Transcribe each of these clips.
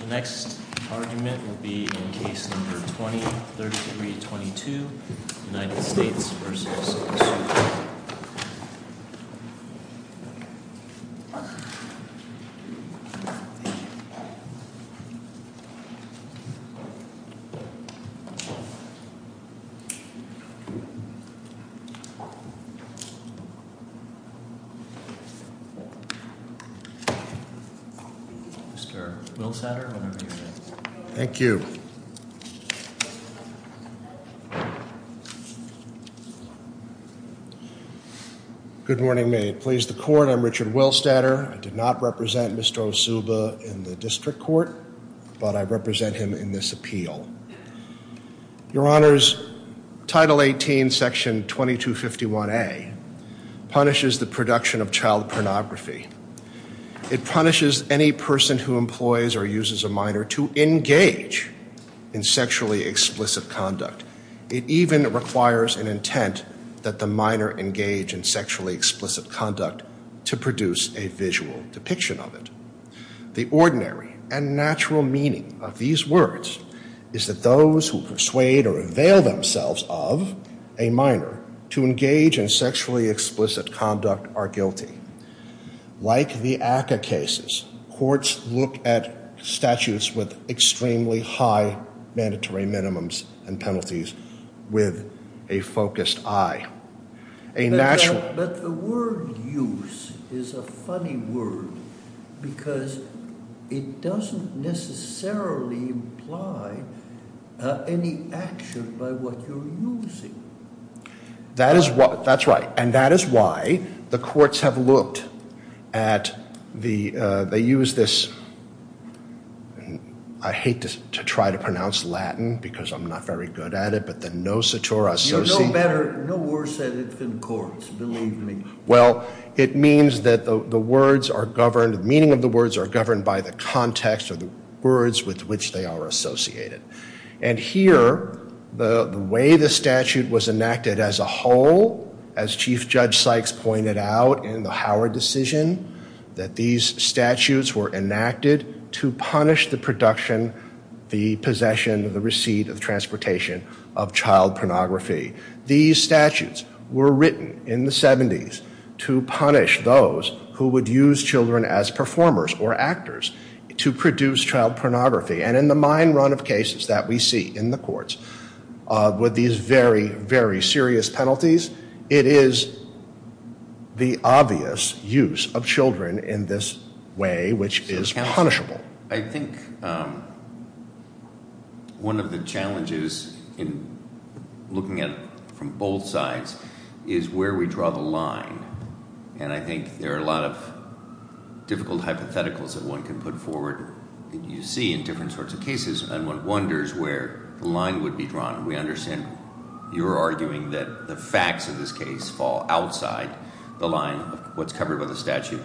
The next argument will be in Case No. 20-3322, United States v. Osuba. Mr. Good morning, May it please the court. I'm Richard Willstatter. I did not represent Mr. Osuba in the district court, but I represent him in this appeal. Your Honors, Title 18, Section 2251A punishes the production of child pornography. It punishes any person who employs or uses a minor to engage in sexually explicit conduct. It even requires an intent that the minor engage in sexually explicit conduct to produce a visual depiction of it. The ordinary and natural meaning of these words is that those who persuade or avail themselves of a minor to engage in sexually explicit conduct are guilty. Like the ACCA cases, courts look at statutes with extremely high mandatory minimums and penalties with a focused eye. But the word use is a funny word because it doesn't necessarily imply any action by what you're using. That is what, that's right, and that is why the courts have looked at the, they use this, I hate to try to pronounce Latin because I'm not very good at it, but the no-satura association. You're no better, no worse at it than courts, believe me. Well, it means that the words are governed, the meaning of the words are governed by the context or the words with which they are associated. And here, the way the statute was enacted as a whole, as Chief Judge Sykes pointed out in the Howard decision, that these statutes were enacted to punish the production, the possession, the receipt of transportation of child pornography. These statutes were written in the 70s to punish those who would use children as performers or actors to produce child pornography. And in the mine run of cases that we see in the courts with these very, very serious penalties, it is the obvious use of children in this way which is punishable. I think one of the challenges in looking at it from both sides is where we draw the line. And I think there are a lot of difficult hypotheticals that one can put forward that you see in different sorts of cases. And one wonders where the line would be drawn. We understand you're arguing that the facts of this case fall outside the line of what's covered by the statute.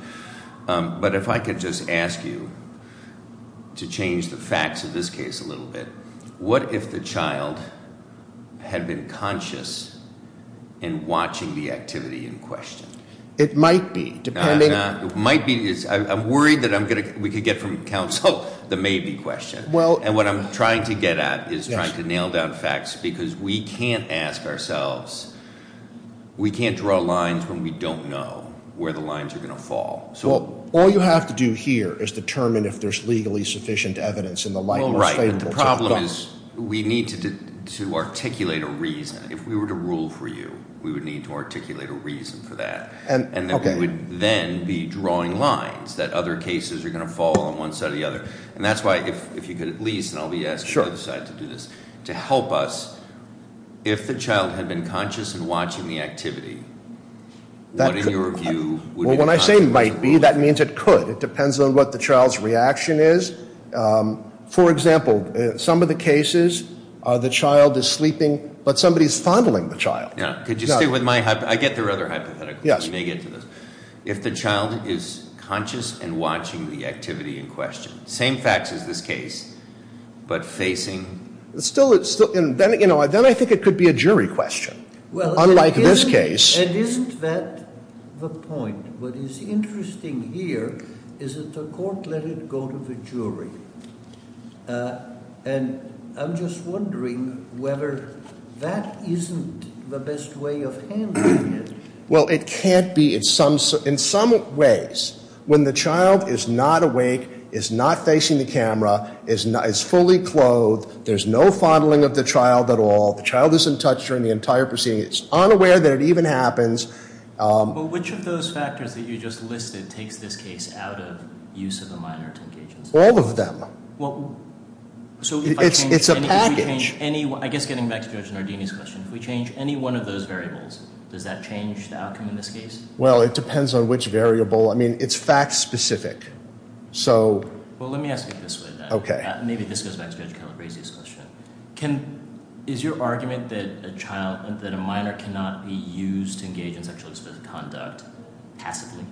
But if I could just ask you to change the facts of this case a little bit. What if the child had been conscious in watching the activity in question? It might be, depending on- I'm worried that we could get from counsel the maybe question. And what I'm trying to get at is trying to nail down facts because we can't ask ourselves, we can't draw lines when we don't know where the lines are going to fall. So all you have to do here is determine if there's legally sufficient evidence in the light- Well, right, but the problem is we need to articulate a reason. If we were to rule for you, we would need to articulate a reason for that. And then we would then be drawing lines that other cases are going to fall on one side or the other. And that's why if you could at least, and I'll be asking the other side to do this, to help us, if the child had been conscious in watching the activity, what, in your view- Well, when I say might be, that means it could. It depends on what the child's reaction is. For example, some of the cases, the child is sleeping, but somebody is fondling the child. Yeah, could you stick with my- I get their other hypotheticals. You may get to those. If the child is conscious in watching the activity in question, same facts as this case, but facing- Then I think it could be a jury question, unlike this case. It isn't that the point. What is interesting here is that the court let it go to the jury. And I'm just wondering whether that isn't the best way of handling it. Well, it can't be. In some ways, when the child is not awake, is not facing the camera, is fully clothed, there's no fondling of the child at all. The child isn't touched during the entire proceeding. It's unaware that it even happens. Well, which of those factors that you just listed takes this case out of use of a minor to engage in- All of them. Well, so if I change- It's a package. I guess getting back to Judge Nardini's question, if we change any one of those variables, does that change the outcome in this case? Well, it depends on which variable. I mean, it's fact specific. Well, let me ask it this way then. Okay. Maybe this goes back to Judge Calabresi's question. Is your argument that a minor cannot be used to engage in sexually explicit conduct passively?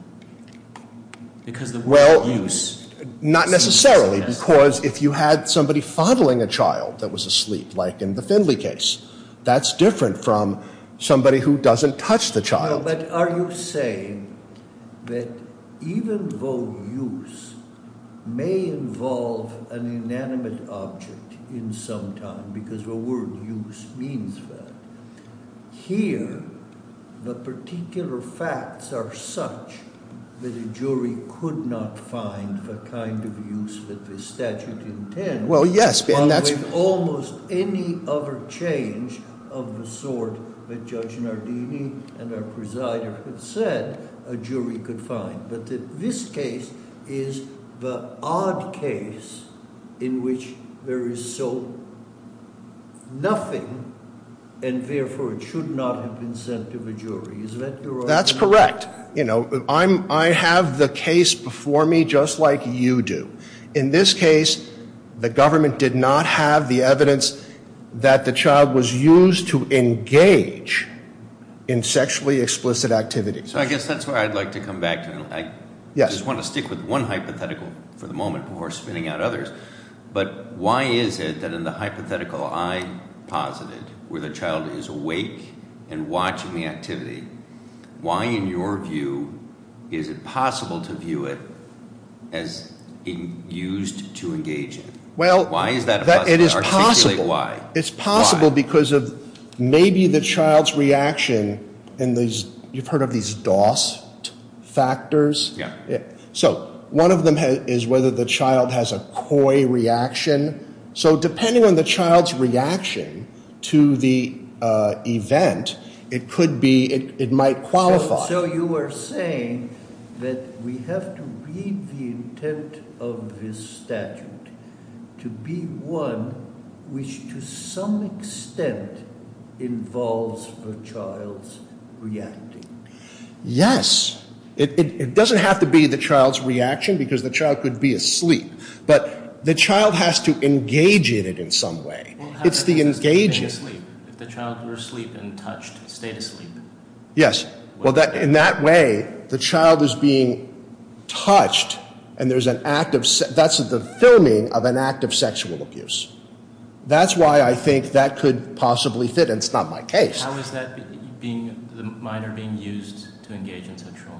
Because the word use- Well, not necessarily because if you had somebody fondling a child that was asleep, like in the Findley case, that's different from somebody who doesn't touch the child. But are you saying that even though use may involve an inanimate object in some time, because the word use means that, here the particular facts are such that a jury could not find the kind of use that the statute intends- Well, yes. Well, with almost any other change of the sort that Judge Nardini and our presider had said a jury could find. But this case is the odd case in which there is so nothing, and therefore it should not have been sent to the jury. Is that your argument? That's correct. You know, I have the case before me just like you do. In this case, the government did not have the evidence that the child was used to engage in sexually explicit activity. So I guess that's where I'd like to come back to. I just want to stick with one hypothetical for the moment before spinning out others. But why is it that in the hypothetical I posited, where the child is awake and watching the activity, why in your view is it possible to view it as used to engage in it? Why is that a possibility? It is possible. Why? It's possible because of maybe the child's reaction in these, you've heard of these DOS factors? Yeah. So one of them is whether the child has a coy reaction. So depending on the child's reaction to the event, it could be, it might qualify. So you are saying that we have to read the intent of this statute to be one which to some extent involves the child's reacting. Yes. It doesn't have to be the child's reaction because the child could be asleep. But the child has to engage in it in some way. It's the engaging. If the child were asleep and touched, stay asleep. Yes. Well, in that way, the child is being touched and there's an act of, that's the filming of an act of sexual abuse. That's why I think that could possibly fit, and it's not my case. How is that being, the minor being used to engage in sexual?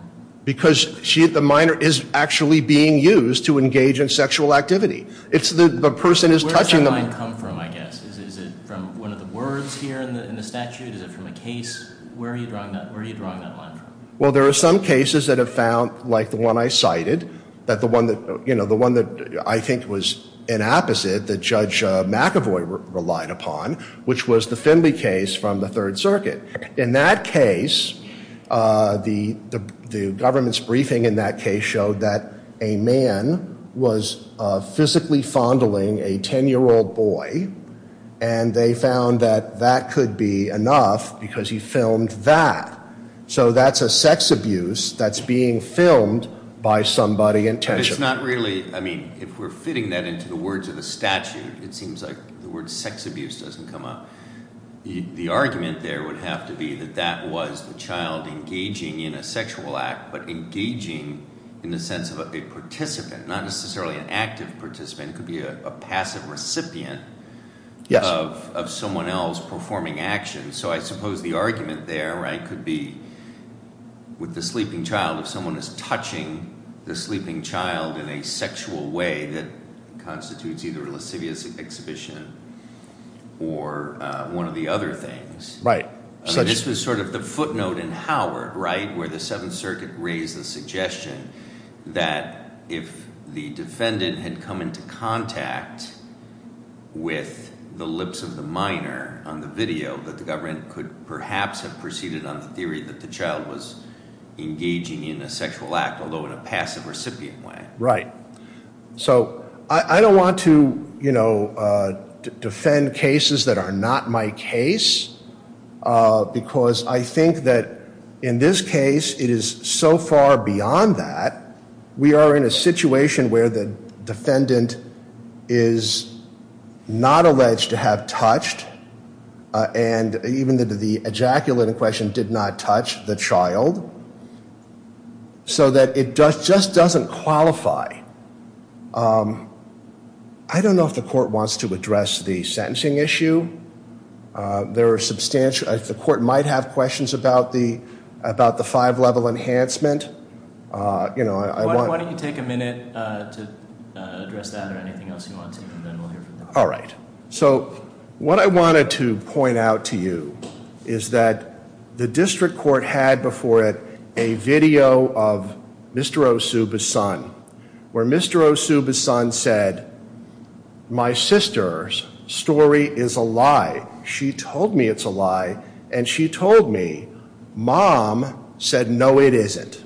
Because the minor is actually being used to engage in sexual activity. It's the person who's touching them. Where does that line come from, I guess? Is it from one of the words here in the statute? Is it from a case? Where are you drawing that line from? Well, there are some cases that have found, like the one I cited, that the one that, you know, the one that I think was an opposite that Judge McAvoy relied upon, which was the Finley case from the Third Circuit. In that case, the government's briefing in that case showed that a man was physically fondling a ten-year-old boy, and they found that that could be enough because he filmed that. So that's a sex abuse that's being filmed by somebody intentionally. But it's not really, I mean, if we're fitting that into the words of the statute, it seems like the word sex abuse doesn't come up. The argument there would have to be that that was the child engaging in a sexual act but engaging in the sense of a participant, not necessarily an active participant. It could be a passive recipient of someone else performing action. So I suppose the argument there, right, could be with the sleeping child, if someone is touching the sleeping child in a sexual way, that constitutes either a lascivious exhibition or one of the other things. Right. This was sort of the footnote in Howard, right, where the Seventh Circuit raised the suggestion that if the defendant had come into contact with the lips of the minor on the video, that the government could perhaps have proceeded on the theory that the child was engaging in a sexual act, although in a passive recipient way. Right. So I don't want to, you know, defend cases that are not my case because I think that in this case it is so far beyond that. We are in a situation where the defendant is not alleged to have touched, and even the ejaculate in question did not touch the child, so that it just doesn't qualify. I don't know if the court wants to address the sentencing issue. The court might have questions about the five-level enhancement. Why don't you take a minute to address that or anything else you want to, and then we'll hear from you. All right. So what I wanted to point out to you is that the district court had before it a video of Mr. Osuba's son, where Mr. Osuba's son said, my sister's story is a lie. She told me it's a lie, and she told me mom said, no, it isn't.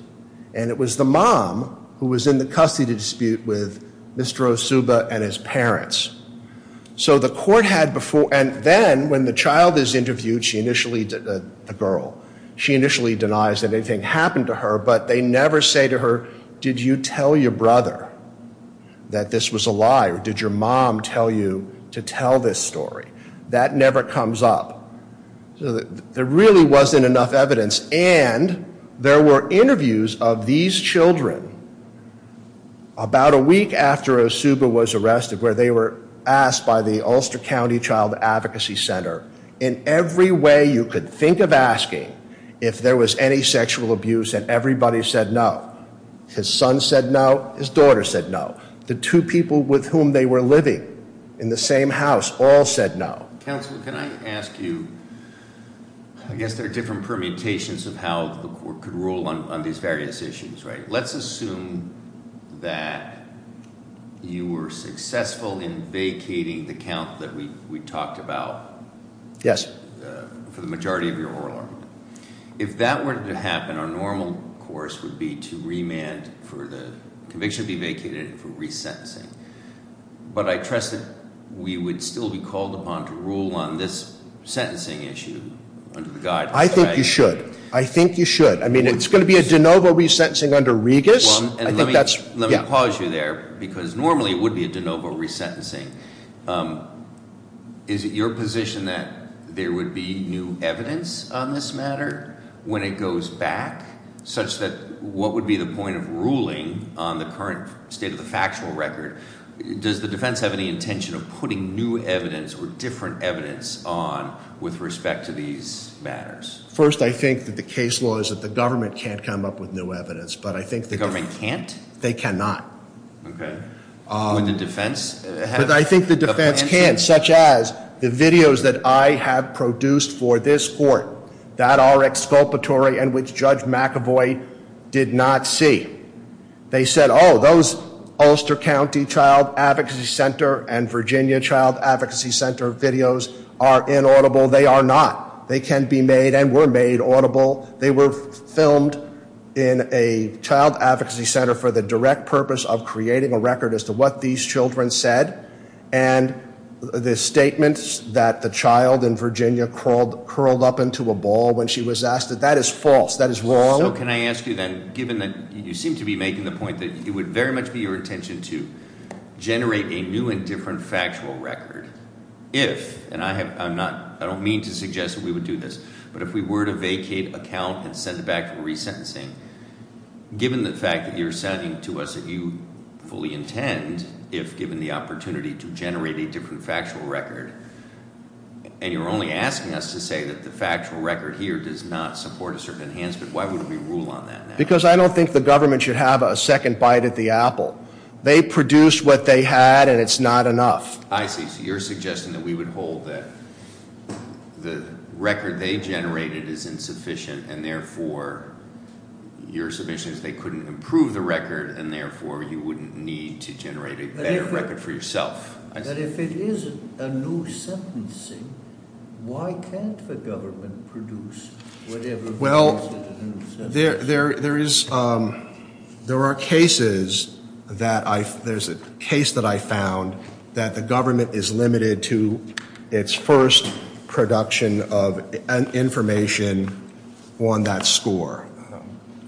And it was the mom who was in the custody dispute with Mr. Osuba and his parents. So the court had before, and then when the child is interviewed, she initially, the girl, she initially denies that anything happened to her, but they never say to her, did you tell your brother that this was a lie, or did your mom tell you to tell this story? That never comes up. So there really wasn't enough evidence, and there were interviews of these children about a week after Osuba was arrested where they were asked by the Ulster County Child Advocacy Center, in every way you could think of asking, if there was any sexual abuse, and everybody said no. His son said no, his daughter said no. The two people with whom they were living in the same house all said no. Counsel, can I ask you, I guess there are different permutations of how the court could rule on these various issues, right? Let's assume that you were successful in vacating the count that we talked about for the majority of your oral argument. If that weren't to happen, our normal course would be to remand for the conviction to be vacated and for resentencing. But I trust that we would still be called upon to rule on this sentencing issue under the guidance, right? I think you should. I think you should. I mean, it's going to be a de novo resentencing under Regas. Let me pause you there, because normally it would be a de novo resentencing. Is it your position that there would be new evidence on this matter when it goes back, such that what would be the point of ruling on the current state of the factual record? Does the defense have any intention of putting new evidence or different evidence on with respect to these matters? First, I think that the case law is that the government can't come up with new evidence. But I think the government can't? They cannot. Okay. Would the defense have to? I think the defense can, such as the videos that I have produced for this court that are exculpatory and which Judge McAvoy did not see. They said, oh, those Ulster County Child Advocacy Center and Virginia Child Advocacy Center videos are inaudible. They are not. They can be made and were made audible. They were filmed in a child advocacy center for the direct purpose of creating a record as to what these children said. And the statements that the child in Virginia curled up into a ball when she was asked, that is false. That is wrong. So can I ask you then, given that you seem to be making the point that it would very much be your intention to generate a new and different factual record if, and I don't mean to suggest that we would do this, but if we were to vacate account and send it back for resentencing, given the fact that you're saying to us that you fully intend, if given the opportunity, to generate a different factual record, and you're only asking us to say that the factual record here does not support a certain enhancement, why would we rule on that? Because I don't think the government should have a second bite at the apple. They produced what they had, and it's not enough. I see. So you're suggesting that we would hold that the record they generated is insufficient, and therefore your submission is they couldn't improve the record, and therefore you wouldn't need to generate a better record for yourself. But if it is a new sentencing, why can't the government produce whatever it is that is a new sentencing? There are cases that I found that the government is limited to its first production of information on that score.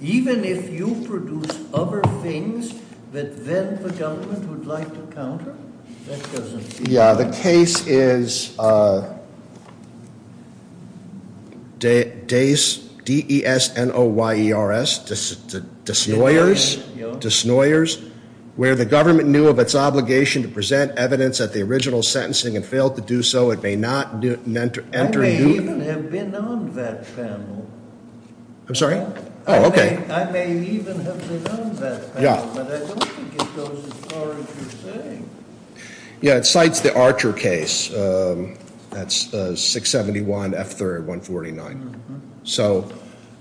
Even if you produce other things that then the government would like to counter? Yeah, the case is DESNOYERS, where the government knew of its obligation to present evidence at the original sentencing and failed to do so. It may not enter new – I may even have been on that panel. I'm sorry? Oh, okay. I may even have been on that panel, but I don't think it goes as far as you're saying. Yeah, it cites the Archer case. That's 671 F. 3rd, 149.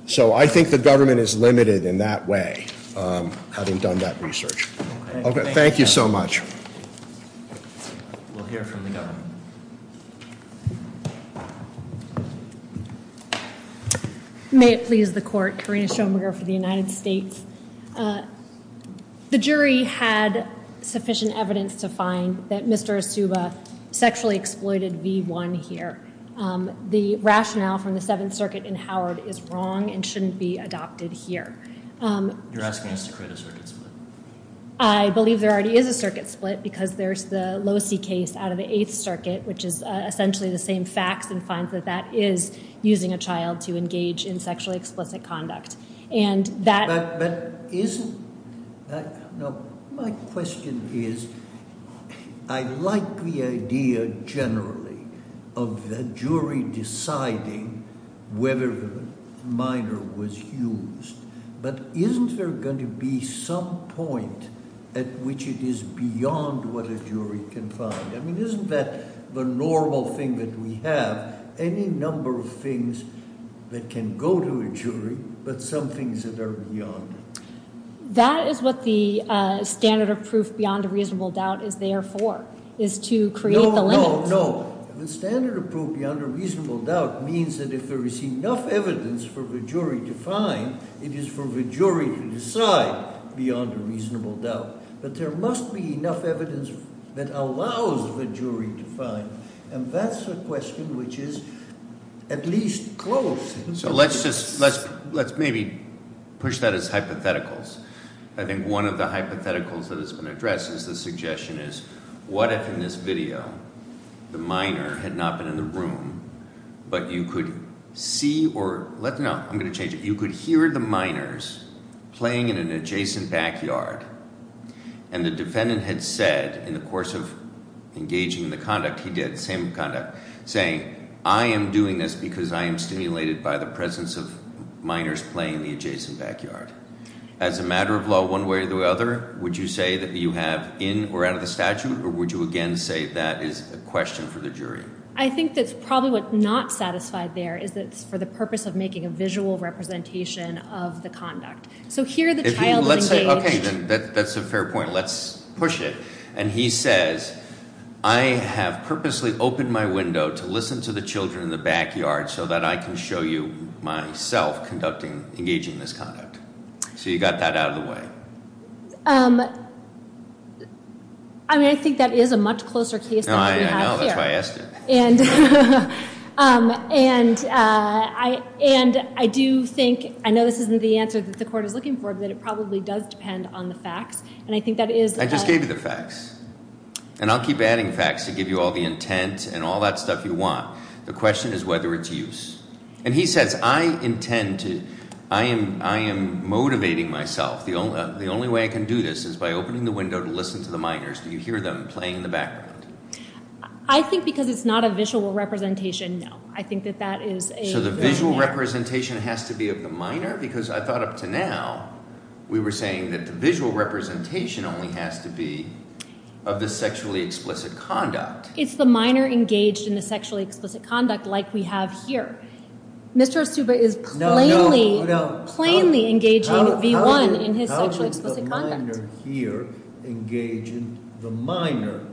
So I think the government is limited in that way, having done that research. Okay, thank you so much. We'll hear from the government. Thank you. May it please the court. Karina Schoenberger for the United States. The jury had sufficient evidence to find that Mr. Asuba sexually exploited V1 here. The rationale from the Seventh Circuit in Howard is wrong and shouldn't be adopted here. You're asking us to create a circuit split? I believe there already is a circuit split because there's the Losey case out of the Eighth Circuit, which is essentially the same facts, and finds that that is using a child to engage in sexually explicit conduct. But isn't – no, my question is, I like the idea generally of the jury deciding whether the minor was used. But isn't there going to be some point at which it is beyond what a jury can find? I mean, isn't that the normal thing that we have, any number of things that can go to a jury, but some things that are beyond? That is what the standard of proof beyond a reasonable doubt is there for, is to create the limits. No, no. The standard of proof beyond a reasonable doubt means that if there is enough evidence for the jury to find, it is for the jury to decide beyond a reasonable doubt. But there must be enough evidence that allows the jury to find, and that's a question which is at least close. So let's just – let's maybe push that as hypotheticals. I think one of the hypotheticals that has been addressed is the suggestion is what if in this video the minor had not been in the room, but you could see or – no, I'm going to change it. You could hear the minors playing in an adjacent backyard, and the defendant had said in the course of engaging in the conduct – he did, same conduct – saying I am doing this because I am stimulated by the presence of minors playing in the adjacent backyard. As a matter of law, one way or the other, would you say that you have in or out of the statute, or would you again say that is a question for the jury? I think that's probably what's not satisfied there is that it's for the purpose of making a visual representation of the conduct. Let's say – okay, then that's a fair point. Let's push it. And he says I have purposely opened my window to listen to the children in the backyard so that I can show you myself conducting – engaging in this conduct. So you got that out of the way. I mean, I think that is a much closer case than what we have here. I know. That's why I asked it. And I do think – I know this isn't the answer that the court is looking for, but it probably does depend on the facts, and I think that is – I just gave you the facts. And I'll keep adding facts to give you all the intent and all that stuff you want. The question is whether it's use. And he says I intend to – I am motivating myself. The only way I can do this is by opening the window to listen to the minors. Do you hear them playing in the backyard? I think because it's not a visual representation, no. I think that that is a – So the visual representation has to be of the minor? Because I thought up to now we were saying that the visual representation only has to be of the sexually explicit conduct. It's the minor engaged in the sexually explicit conduct like we have here. Mr. Osuba is plainly – No, no. Plainly engaging V1 in his sexually explicit conduct. The minor here engaged in – the minor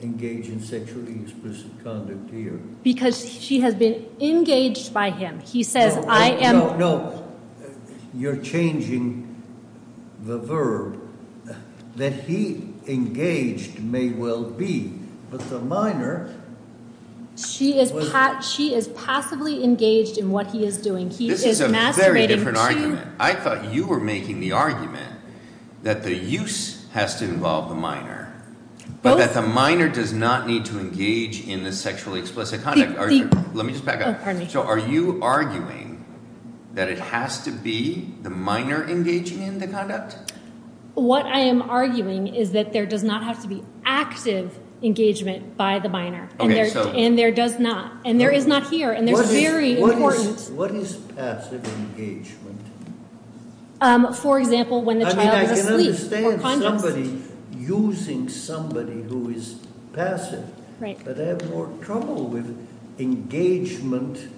engaged in sexually explicit conduct here. Because she has been engaged by him. He says I am – No, no, no. You're changing the verb. That he engaged may well be, but the minor – She is passively engaged in what he is doing. He is masturbating. This is a very different argument. I thought you were making the argument that the use has to involve the minor. But that the minor does not need to engage in the sexually explicit conduct. Let me just back up. So are you arguing that it has to be the minor engaging in the conduct? What I am arguing is that there does not have to be active engagement by the minor. And there does not. And there is not here. And there's very important – What is passive engagement? For example, when the child is asleep. I can understand somebody using somebody who is passive. But I have more trouble with engagement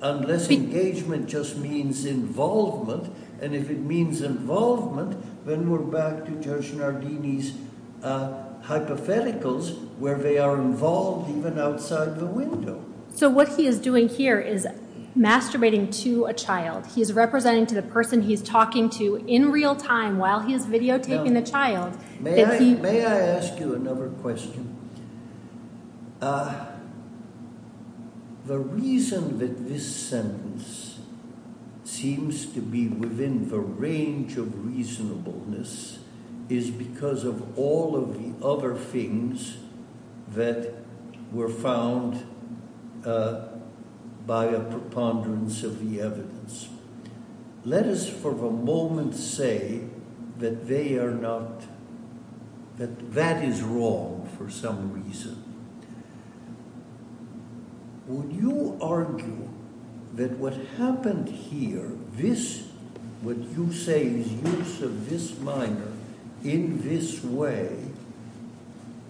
unless engagement just means involvement. And if it means involvement, then we're back to Judge Nardini's hypotheticals where they are involved even outside the window. So what he is doing here is masturbating to a child. He is representing to the person he is talking to in real time while he is videotaping the child. May I ask you another question? The reason that this sentence seems to be within the range of reasonableness is because of all of the other things that were found by a preponderance of the evidence. Let us for the moment say that they are not – that that is wrong for some reason. Would you argue that what happened here, this – what you say is use of this minor in this way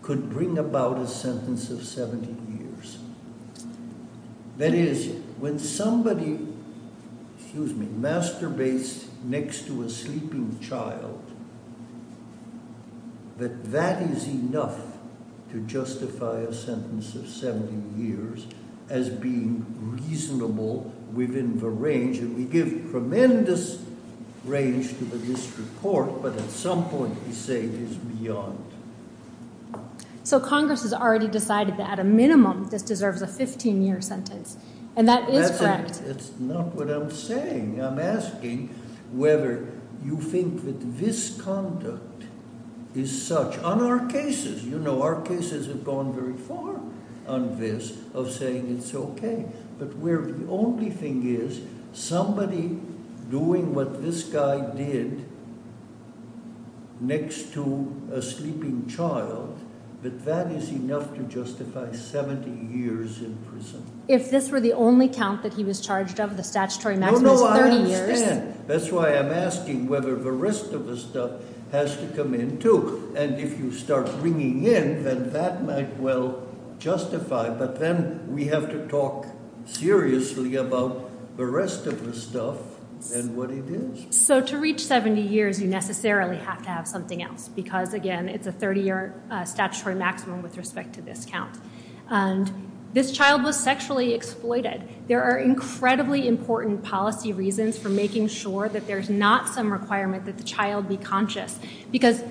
could bring about a sentence of 70 years? That is, when somebody masturbates next to a sleeping child, that that is enough to justify a sentence of 70 years as being reasonable within the range. And we give tremendous range to the district court, but at some point we say it is beyond. So Congress has already decided that at a minimum this deserves a 15-year sentence, and that is correct. That's not what I'm saying. I'm asking whether you think that this conduct is such – on our cases, you know, our cases have gone very far on this – of saying it's okay. But where the only thing is somebody doing what this guy did next to a sleeping child, that that is enough to justify 70 years in prison. If this were the only count that he was charged of, the statutory maximum is 30 years. No, no, I understand. That's why I'm asking whether the rest of the stuff has to come in too. And if you start bringing in, then that might well justify, but then we have to talk seriously about the rest of the stuff and what it is. So to reach 70 years, you necessarily have to have something else because, again, it's a 30-year statutory maximum with respect to this count. And this child was sexually exploited. There are incredibly important policy reasons for making sure that there's not some requirement that the child be conscious. Because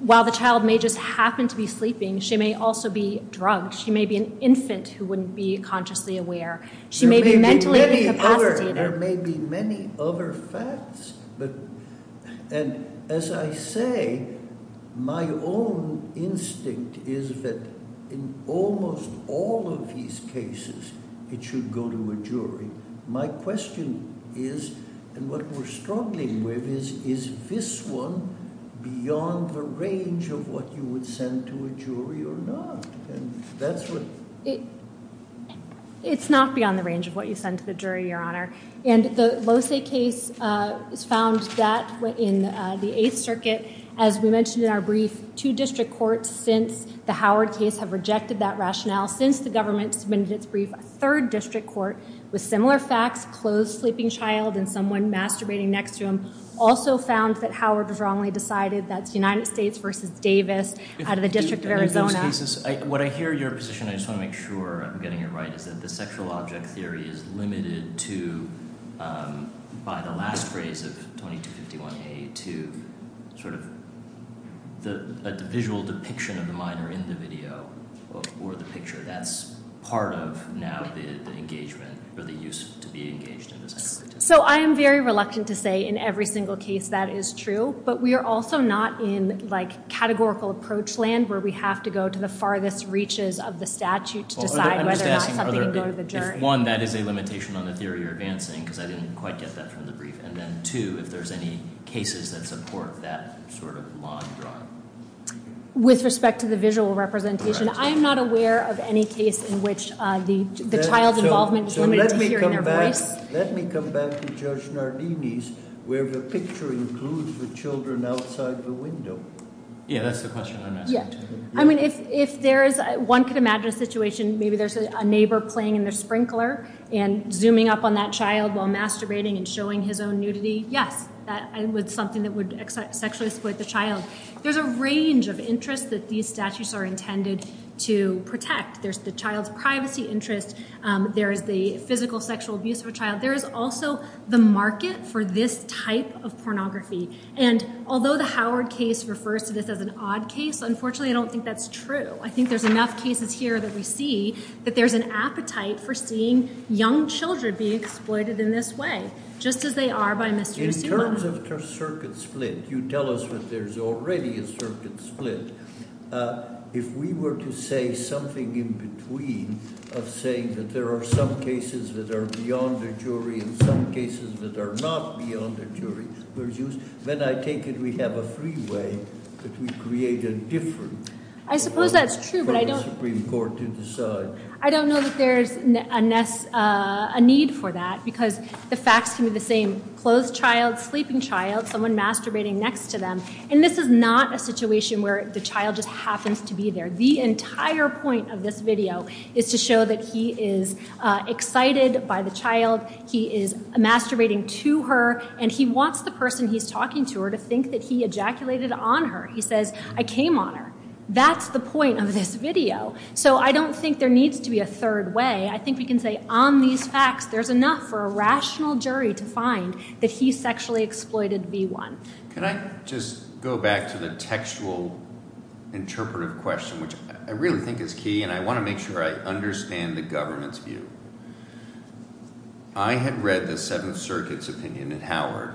while the child may just happen to be sleeping, she may also be drunk. She may be an infant who wouldn't be consciously aware. She may be mentally incapacitated. There may be many other facts. And as I say, my own instinct is that in almost all of these cases, it should go to a jury. My question is, and what we're struggling with is, is this one beyond the range of what you would send to a jury or not? It's not beyond the range of what you send to the jury, Your Honor. And the Lose case found that in the Eighth Circuit. As we mentioned in our brief, two district courts since the Howard case have rejected that rationale. Since the government submitted its brief, a third district court with similar facts, closed sleeping child and someone masturbating next to him, also found that Howard was wrongly decided. That's United States v. Davis out of the District of Arizona. In those cases, what I hear your position, I just want to make sure I'm getting it right, is that the sexual object theory is limited to, by the last phrase of 2251A, to sort of a visual depiction of the minor in the video or the picture. That's part of now the engagement or the use to be engaged in the sexual activity. So I am very reluctant to say in every single case that is true. But we are also not in categorical approach land where we have to go to the farthest reaches of the statute to decide whether or not something can go to the jury. I'm just asking if, one, that is a limitation on the theory you're advancing, because I didn't quite get that from the brief. And then, two, if there's any cases that support that sort of line drawn. With respect to the visual representation, I am not aware of any case in which the child's involvement is limited to hearing their voice. Let me come back to Judge Nardini's where the picture includes the children outside the window. Yeah, that's the question I'm asking. I mean, if there is, one could imagine a situation, maybe there's a neighbor playing in their sprinkler and zooming up on that child while masturbating and showing his own nudity. Yes, that's something that would sexually exploit the child. There's a range of interests that these statutes are intended to protect. There's the child's privacy interest. There is the physical sexual abuse of a child. There is also the market for this type of pornography. And although the Howard case refers to this as an odd case, unfortunately, I don't think that's true. I think there's enough cases here that we see that there's an appetite for seeing young children being exploited in this way, just as they are by Mr. Suman. In terms of circuit split, you tell us that there's already a circuit split. If we were to say something in between of saying that there are some cases that are beyond the jury and some cases that are not beyond the jury, then I take it we have a freeway that we create a different one for the Supreme Court to decide. I suppose that's true, but I don't know that there's a need for that because the facts can be the same. Closed child, sleeping child, someone masturbating next to them. And this is not a situation where the child just happens to be there. The entire point of this video is to show that he is excited by the child, he is masturbating to her, and he wants the person he's talking to her to think that he ejaculated on her. He says, I came on her. That's the point of this video. So I don't think there needs to be a third way. I think we can say on these facts there's enough for a rational jury to find that he sexually exploited B1. Can I just go back to the textual interpretive question, which I really think is key, and I want to make sure I understand the government's view. I had read the Seventh Circuit's opinion in Howard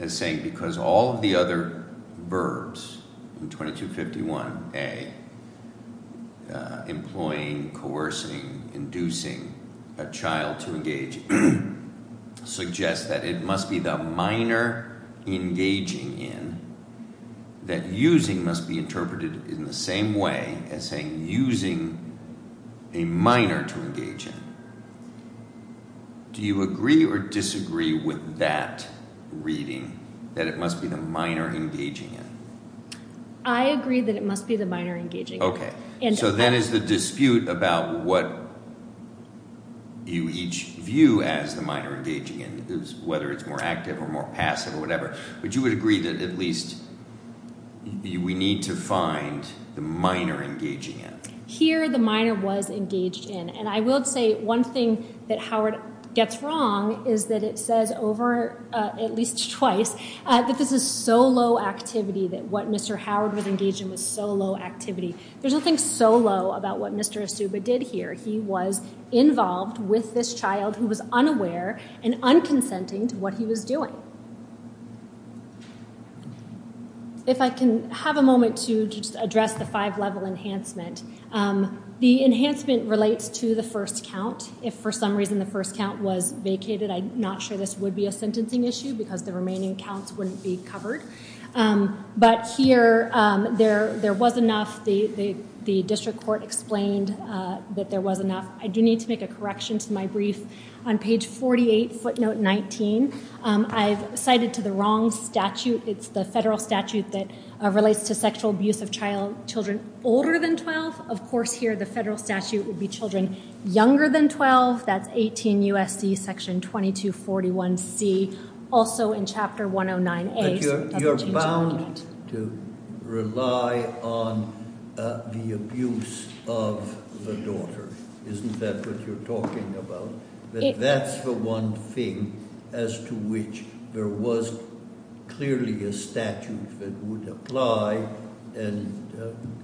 as saying because all of the other verbs in 2251A, employing, coercing, inducing a child to engage, suggests that it must be the minor engaging in that using must be interpreted in the same way as saying using a minor to engage in. Do you agree or disagree with that reading, that it must be the minor engaging in? I agree that it must be the minor engaging in. Okay. So then is the dispute about what you each view as the minor engaging in, whether it's more active or more passive or whatever, would you agree that at least we need to find the minor engaging in? Here the minor was engaged in, and I will say one thing that Howard gets wrong is that it says over at least twice that this is so low activity that what Mr. Howard was engaged in was so low activity. There's nothing so low about what Mr. Asuba did here. He was involved with this child who was unaware and unconsenting to what he was doing. If I can have a moment to just address the five-level enhancement. The enhancement relates to the first count. If for some reason the first count was vacated, I'm not sure this would be a sentencing issue because the remaining counts wouldn't be covered. But here there was enough. The district court explained that there was enough. I do need to make a correction to my brief. On page 48, footnote 19, I've cited to the wrong statute. It's the federal statute that relates to sexual abuse of children older than 12. Of course, here the federal statute would be children younger than 12. That's 18 U.S.C. section 2241C. Also in chapter 109A. You're bound to rely on the abuse of the daughter. Isn't that what you're talking about? That's the one thing as to which there was clearly a statute that would apply.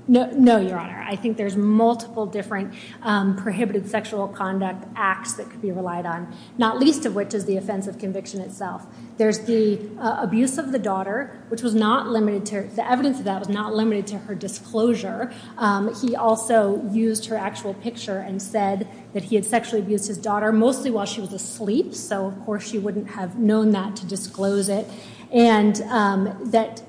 No, Your Honor. I think there's multiple different prohibited sexual conduct acts that could be relied on, not least of which is the offense of conviction itself. There's the abuse of the daughter, which the evidence of that was not limited to her disclosure. He also used her actual picture and said that he had sexually abused his daughter, mostly while she was asleep, so of course she wouldn't have known that to disclose it. And that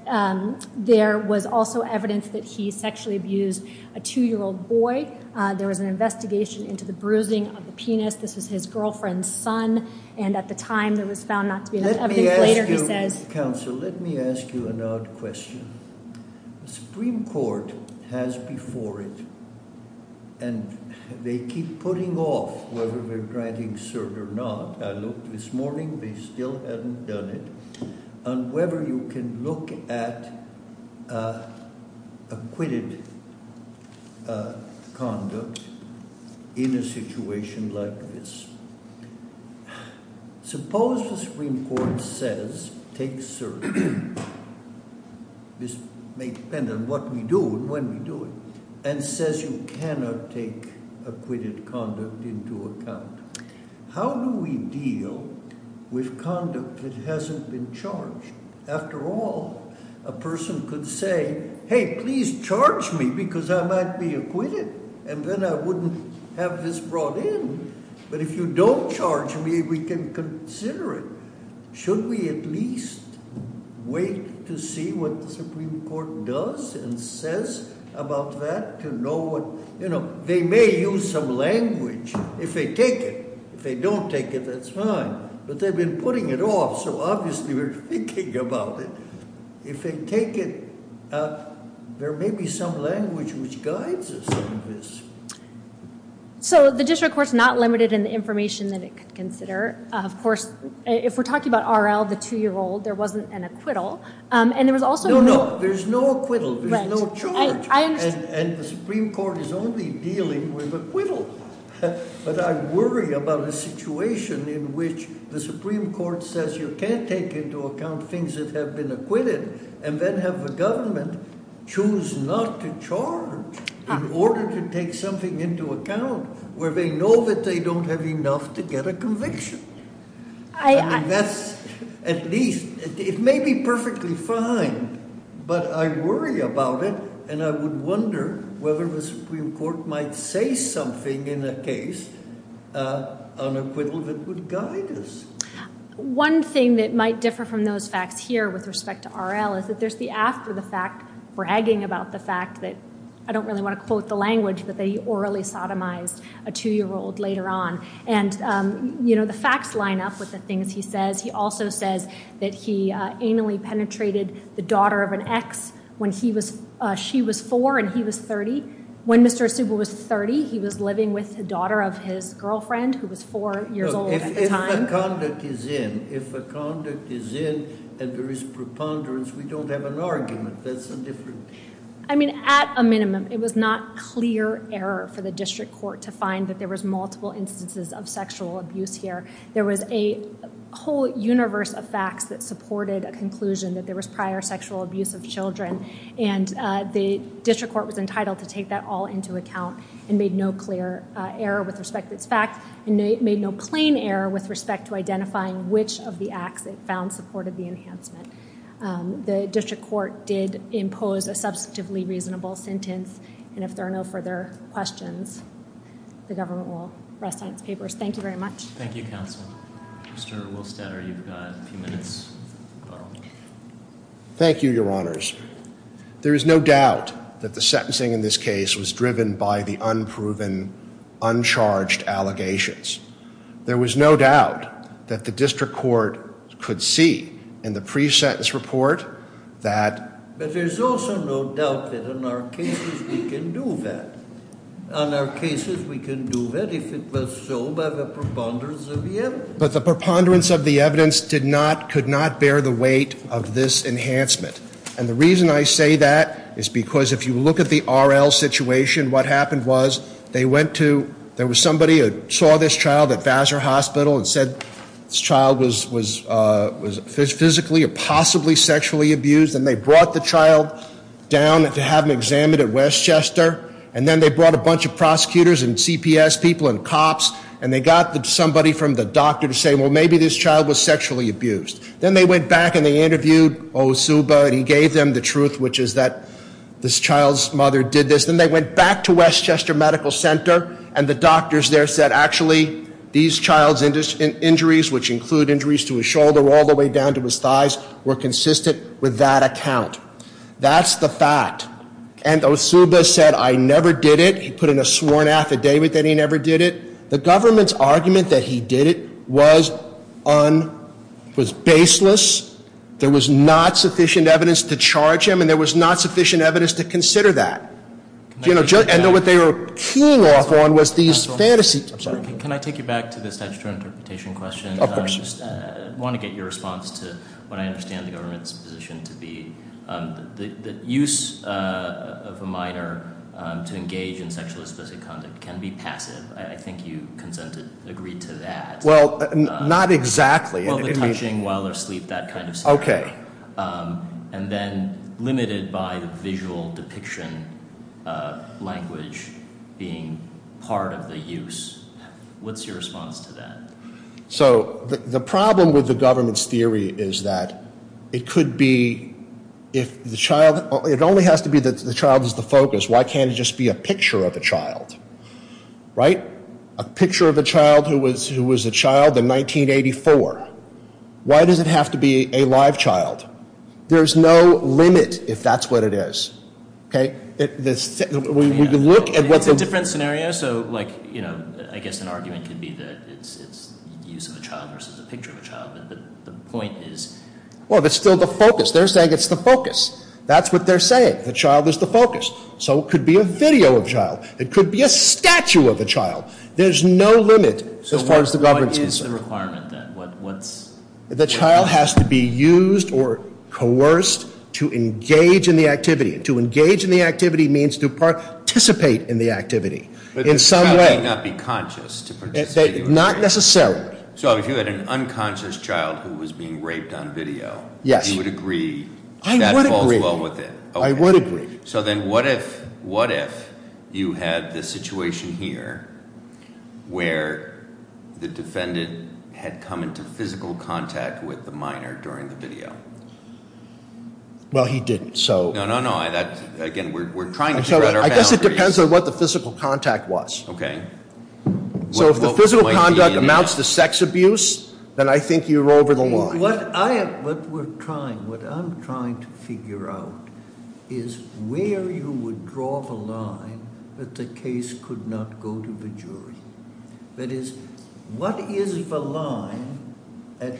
there was also evidence that he sexually abused a 2-year-old boy. There was an investigation into the bruising of the penis. This was his girlfriend's son, and at the time there was found not to be enough evidence. Let me ask you, counsel, let me ask you an odd question. The Supreme Court has before it, and they keep putting off whether they're granting cert or not. I looked this morning, they still haven't done it, on whether you can look at acquitted conduct in a situation like this. Suppose the Supreme Court says, takes cert, this may depend on what we do and when we do it, and says you cannot take acquitted conduct into account. How do we deal with conduct that hasn't been charged? After all, a person could say, hey, please charge me because I might be acquitted, and then I wouldn't have this brought in. But if you don't charge me, we can consider it. Should we at least wait to see what the Supreme Court does and says about that? They may use some language if they take it. If they don't take it, that's fine. But they've been putting it off, so obviously we're thinking about it. If they take it, there may be some language which guides us on this. So the district court's not limited in the information that it could consider. Of course, if we're talking about R.L., the 2-year-old, there wasn't an acquittal. No, no, there's no acquittal. There's no charge. I understand. And the Supreme Court is only dealing with acquittal. But I worry about a situation in which the Supreme Court says you can't take into account things that have been acquitted and then have the government choose not to charge in order to take something into account where they know that they don't have enough to get a conviction. I mean, that's at least, it may be perfectly fine, but I worry about it and I would wonder whether the Supreme Court might say something in a case on acquittal that would guide us. One thing that might differ from those facts here with respect to R.L. is that there's the after the fact bragging about the fact that, I don't really want to quote the language, but they orally sodomized a 2-year-old later on. And, you know, the facts line up with the things he says. He also says that he anally penetrated the daughter of an ex when she was 4 and he was 30. When Mr. Asuba was 30, he was living with the daughter of his girlfriend who was 4 years old at the time. If a conduct is in and there is preponderance, we don't have an argument. That's a different... I mean, at a minimum, it was not clear error for the district court to find that there was multiple instances of sexual abuse here. There was a whole universe of facts that supported a conclusion that there was prior sexual abuse of children and the district court was entitled to take that all into account and made no clear error with respect to its facts and made no plain error with respect to identifying which of the acts it found supported the enhancement. The district court did impose a substantively reasonable sentence and if there are no further questions, the government will rest on its papers. Thank you very much. Thank you, Counsel. Mr. Wilstetter, you've got a few minutes. Thank you, Your Honors. There is no doubt that the sentencing in this case was driven by the unproven, uncharged allegations. There was no doubt that the district court could see in the pre-sentence report that... But there's also no doubt that in our cases, we can do that. In our cases, we can do that if it was so by the preponderance of the evidence. But the preponderance of the evidence did not, could not bear the weight of this enhancement and the reason I say that is because if you look at the R.L. situation, what happened was they went to, there was somebody who saw this child at Vassar Hospital and said this child was physically or possibly sexually abused and they brought the child down to have him examined at Westchester and then they brought a bunch of prosecutors and CPS people and cops and they got somebody from the doctor to say, well, maybe this child was sexually abused. Then they went back and they interviewed Osuba and he gave them the truth, which is that this child's mother did this. Then they went back to Westchester Medical Center and the doctors there said, actually, these child's injuries, which include injuries to his shoulder all the way down to his thighs, were consistent with that account. That's the fact. And Osuba said, I never did it. He put in a sworn affidavit that he never did it. The government's argument that he did it was baseless. There was not sufficient evidence to charge him and there was not sufficient evidence to consider that. And what they were keying off on was these fantasies. Can I take you back to the statutory interpretation question? Of course. I want to get your response to what I understand the government's position to be. The use of a minor to engage in sexually specific conduct can be passive. I think you consent to agree to that. Well, not exactly. Well, the touching while they're asleep, that kind of stuff. Okay. And then limited by the visual depiction language being part of the use. What's your response to that? So the problem with the government's theory is that it could be if the child – it only has to be that the child is the focus. Why can't it just be a picture of a child? Right? A picture of a child who was a child in 1984. Why does it have to be a live child? There's no limit if that's what it is. Okay? We can look at what the – It's a different scenario. So, like, you know, I guess an argument could be that it's the use of a child versus a picture of a child. But the point is – Well, it's still the focus. They're saying it's the focus. That's what they're saying. The child is the focus. So it could be a video of a child. It could be a statue of a child. There's no limit as far as the government's concerned. So what is the requirement then? What's – The child has to be used or coerced to engage in the activity. To engage in the activity means to participate in the activity in some way. But the child may not be conscious to participate in the activity. Not necessarily. So if you had an unconscious child who was being raped on video, you would agree that falls well with it. I would agree. I would agree. So then what if you had the situation here where the defendant had come into physical contact with the minor during the video? Well, he didn't, so – No, no, no. Again, we're trying to figure out our boundaries. I guess it depends on what the physical contact was. Okay. So if the physical contact amounts to sex abuse, then I think you're over the line. What we're trying – what I'm trying to figure out is where you would draw the line that the case could not go to the jury. That is, what is the line at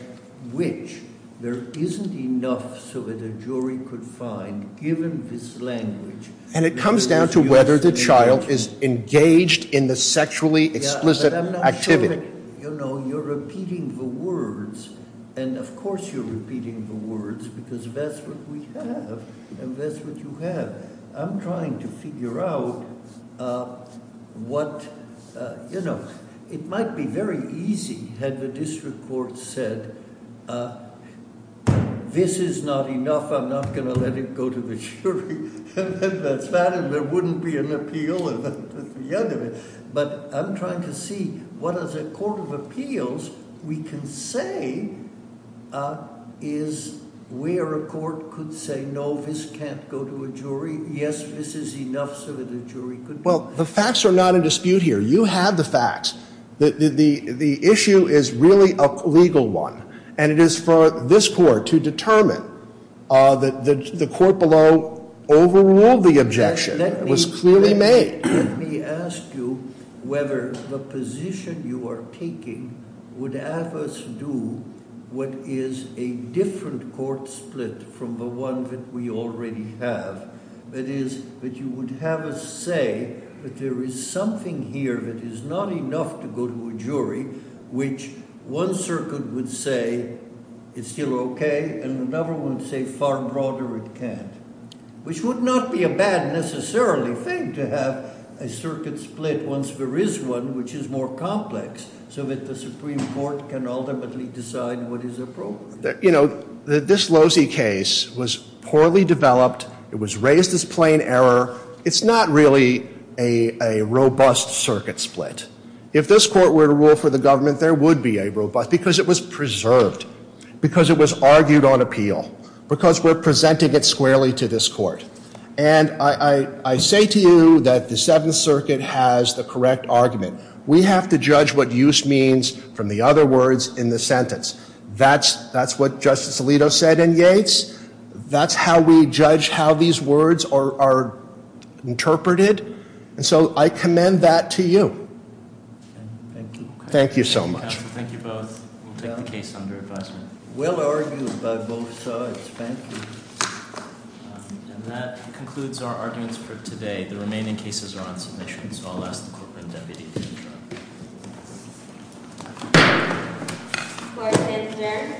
which there isn't enough so that a jury could find, given this language – And it comes down to whether the child is engaged in the sexually explicit activity. You know, you're repeating the words, and of course you're repeating the words because that's what we have and that's what you have. I'm trying to figure out what – you know, it might be very easy had the district court said, This is not enough. I'm not going to let it go to the jury. And then that's that, and there wouldn't be an appeal. But I'm trying to see what, as a court of appeals, we can say is where a court could say, no, this can't go to a jury. Yes, this is enough so that a jury could – Well, the facts are not in dispute here. You have the facts. The issue is really a legal one, and it is for this court to determine that the court below overruled the objection. It was clearly made. Let me ask you whether the position you are taking would have us do what is a different court split from the one that we already have. That is, that you would have us say that there is something here that is not enough to go to a jury, which one circuit would say it's still okay, and another would say far broader it can't. Which would not be a bad, necessarily, thing to have a circuit split once there is one which is more complex so that the Supreme Court can ultimately decide what is appropriate. You know, this Losey case was poorly developed. It was raised as plain error. It's not really a robust circuit split. If this court were to rule for the government, there would be a robust, because it was preserved, because it was argued on appeal, because we're presenting it squarely to this court. And I say to you that the Seventh Circuit has the correct argument. We have to judge what use means from the other words in the sentence. That's what Justice Alito said in Yates. That's how we judge how these words are interpreted. And so I commend that to you. Thank you. Thank you so much. Thank you both. We'll take the case under advisement. Well argued by both sides. Thank you. And that concludes our arguments for today. The remaining cases are on submission. And so I'll ask the Court Rep. to withdraw. Court is adjourned.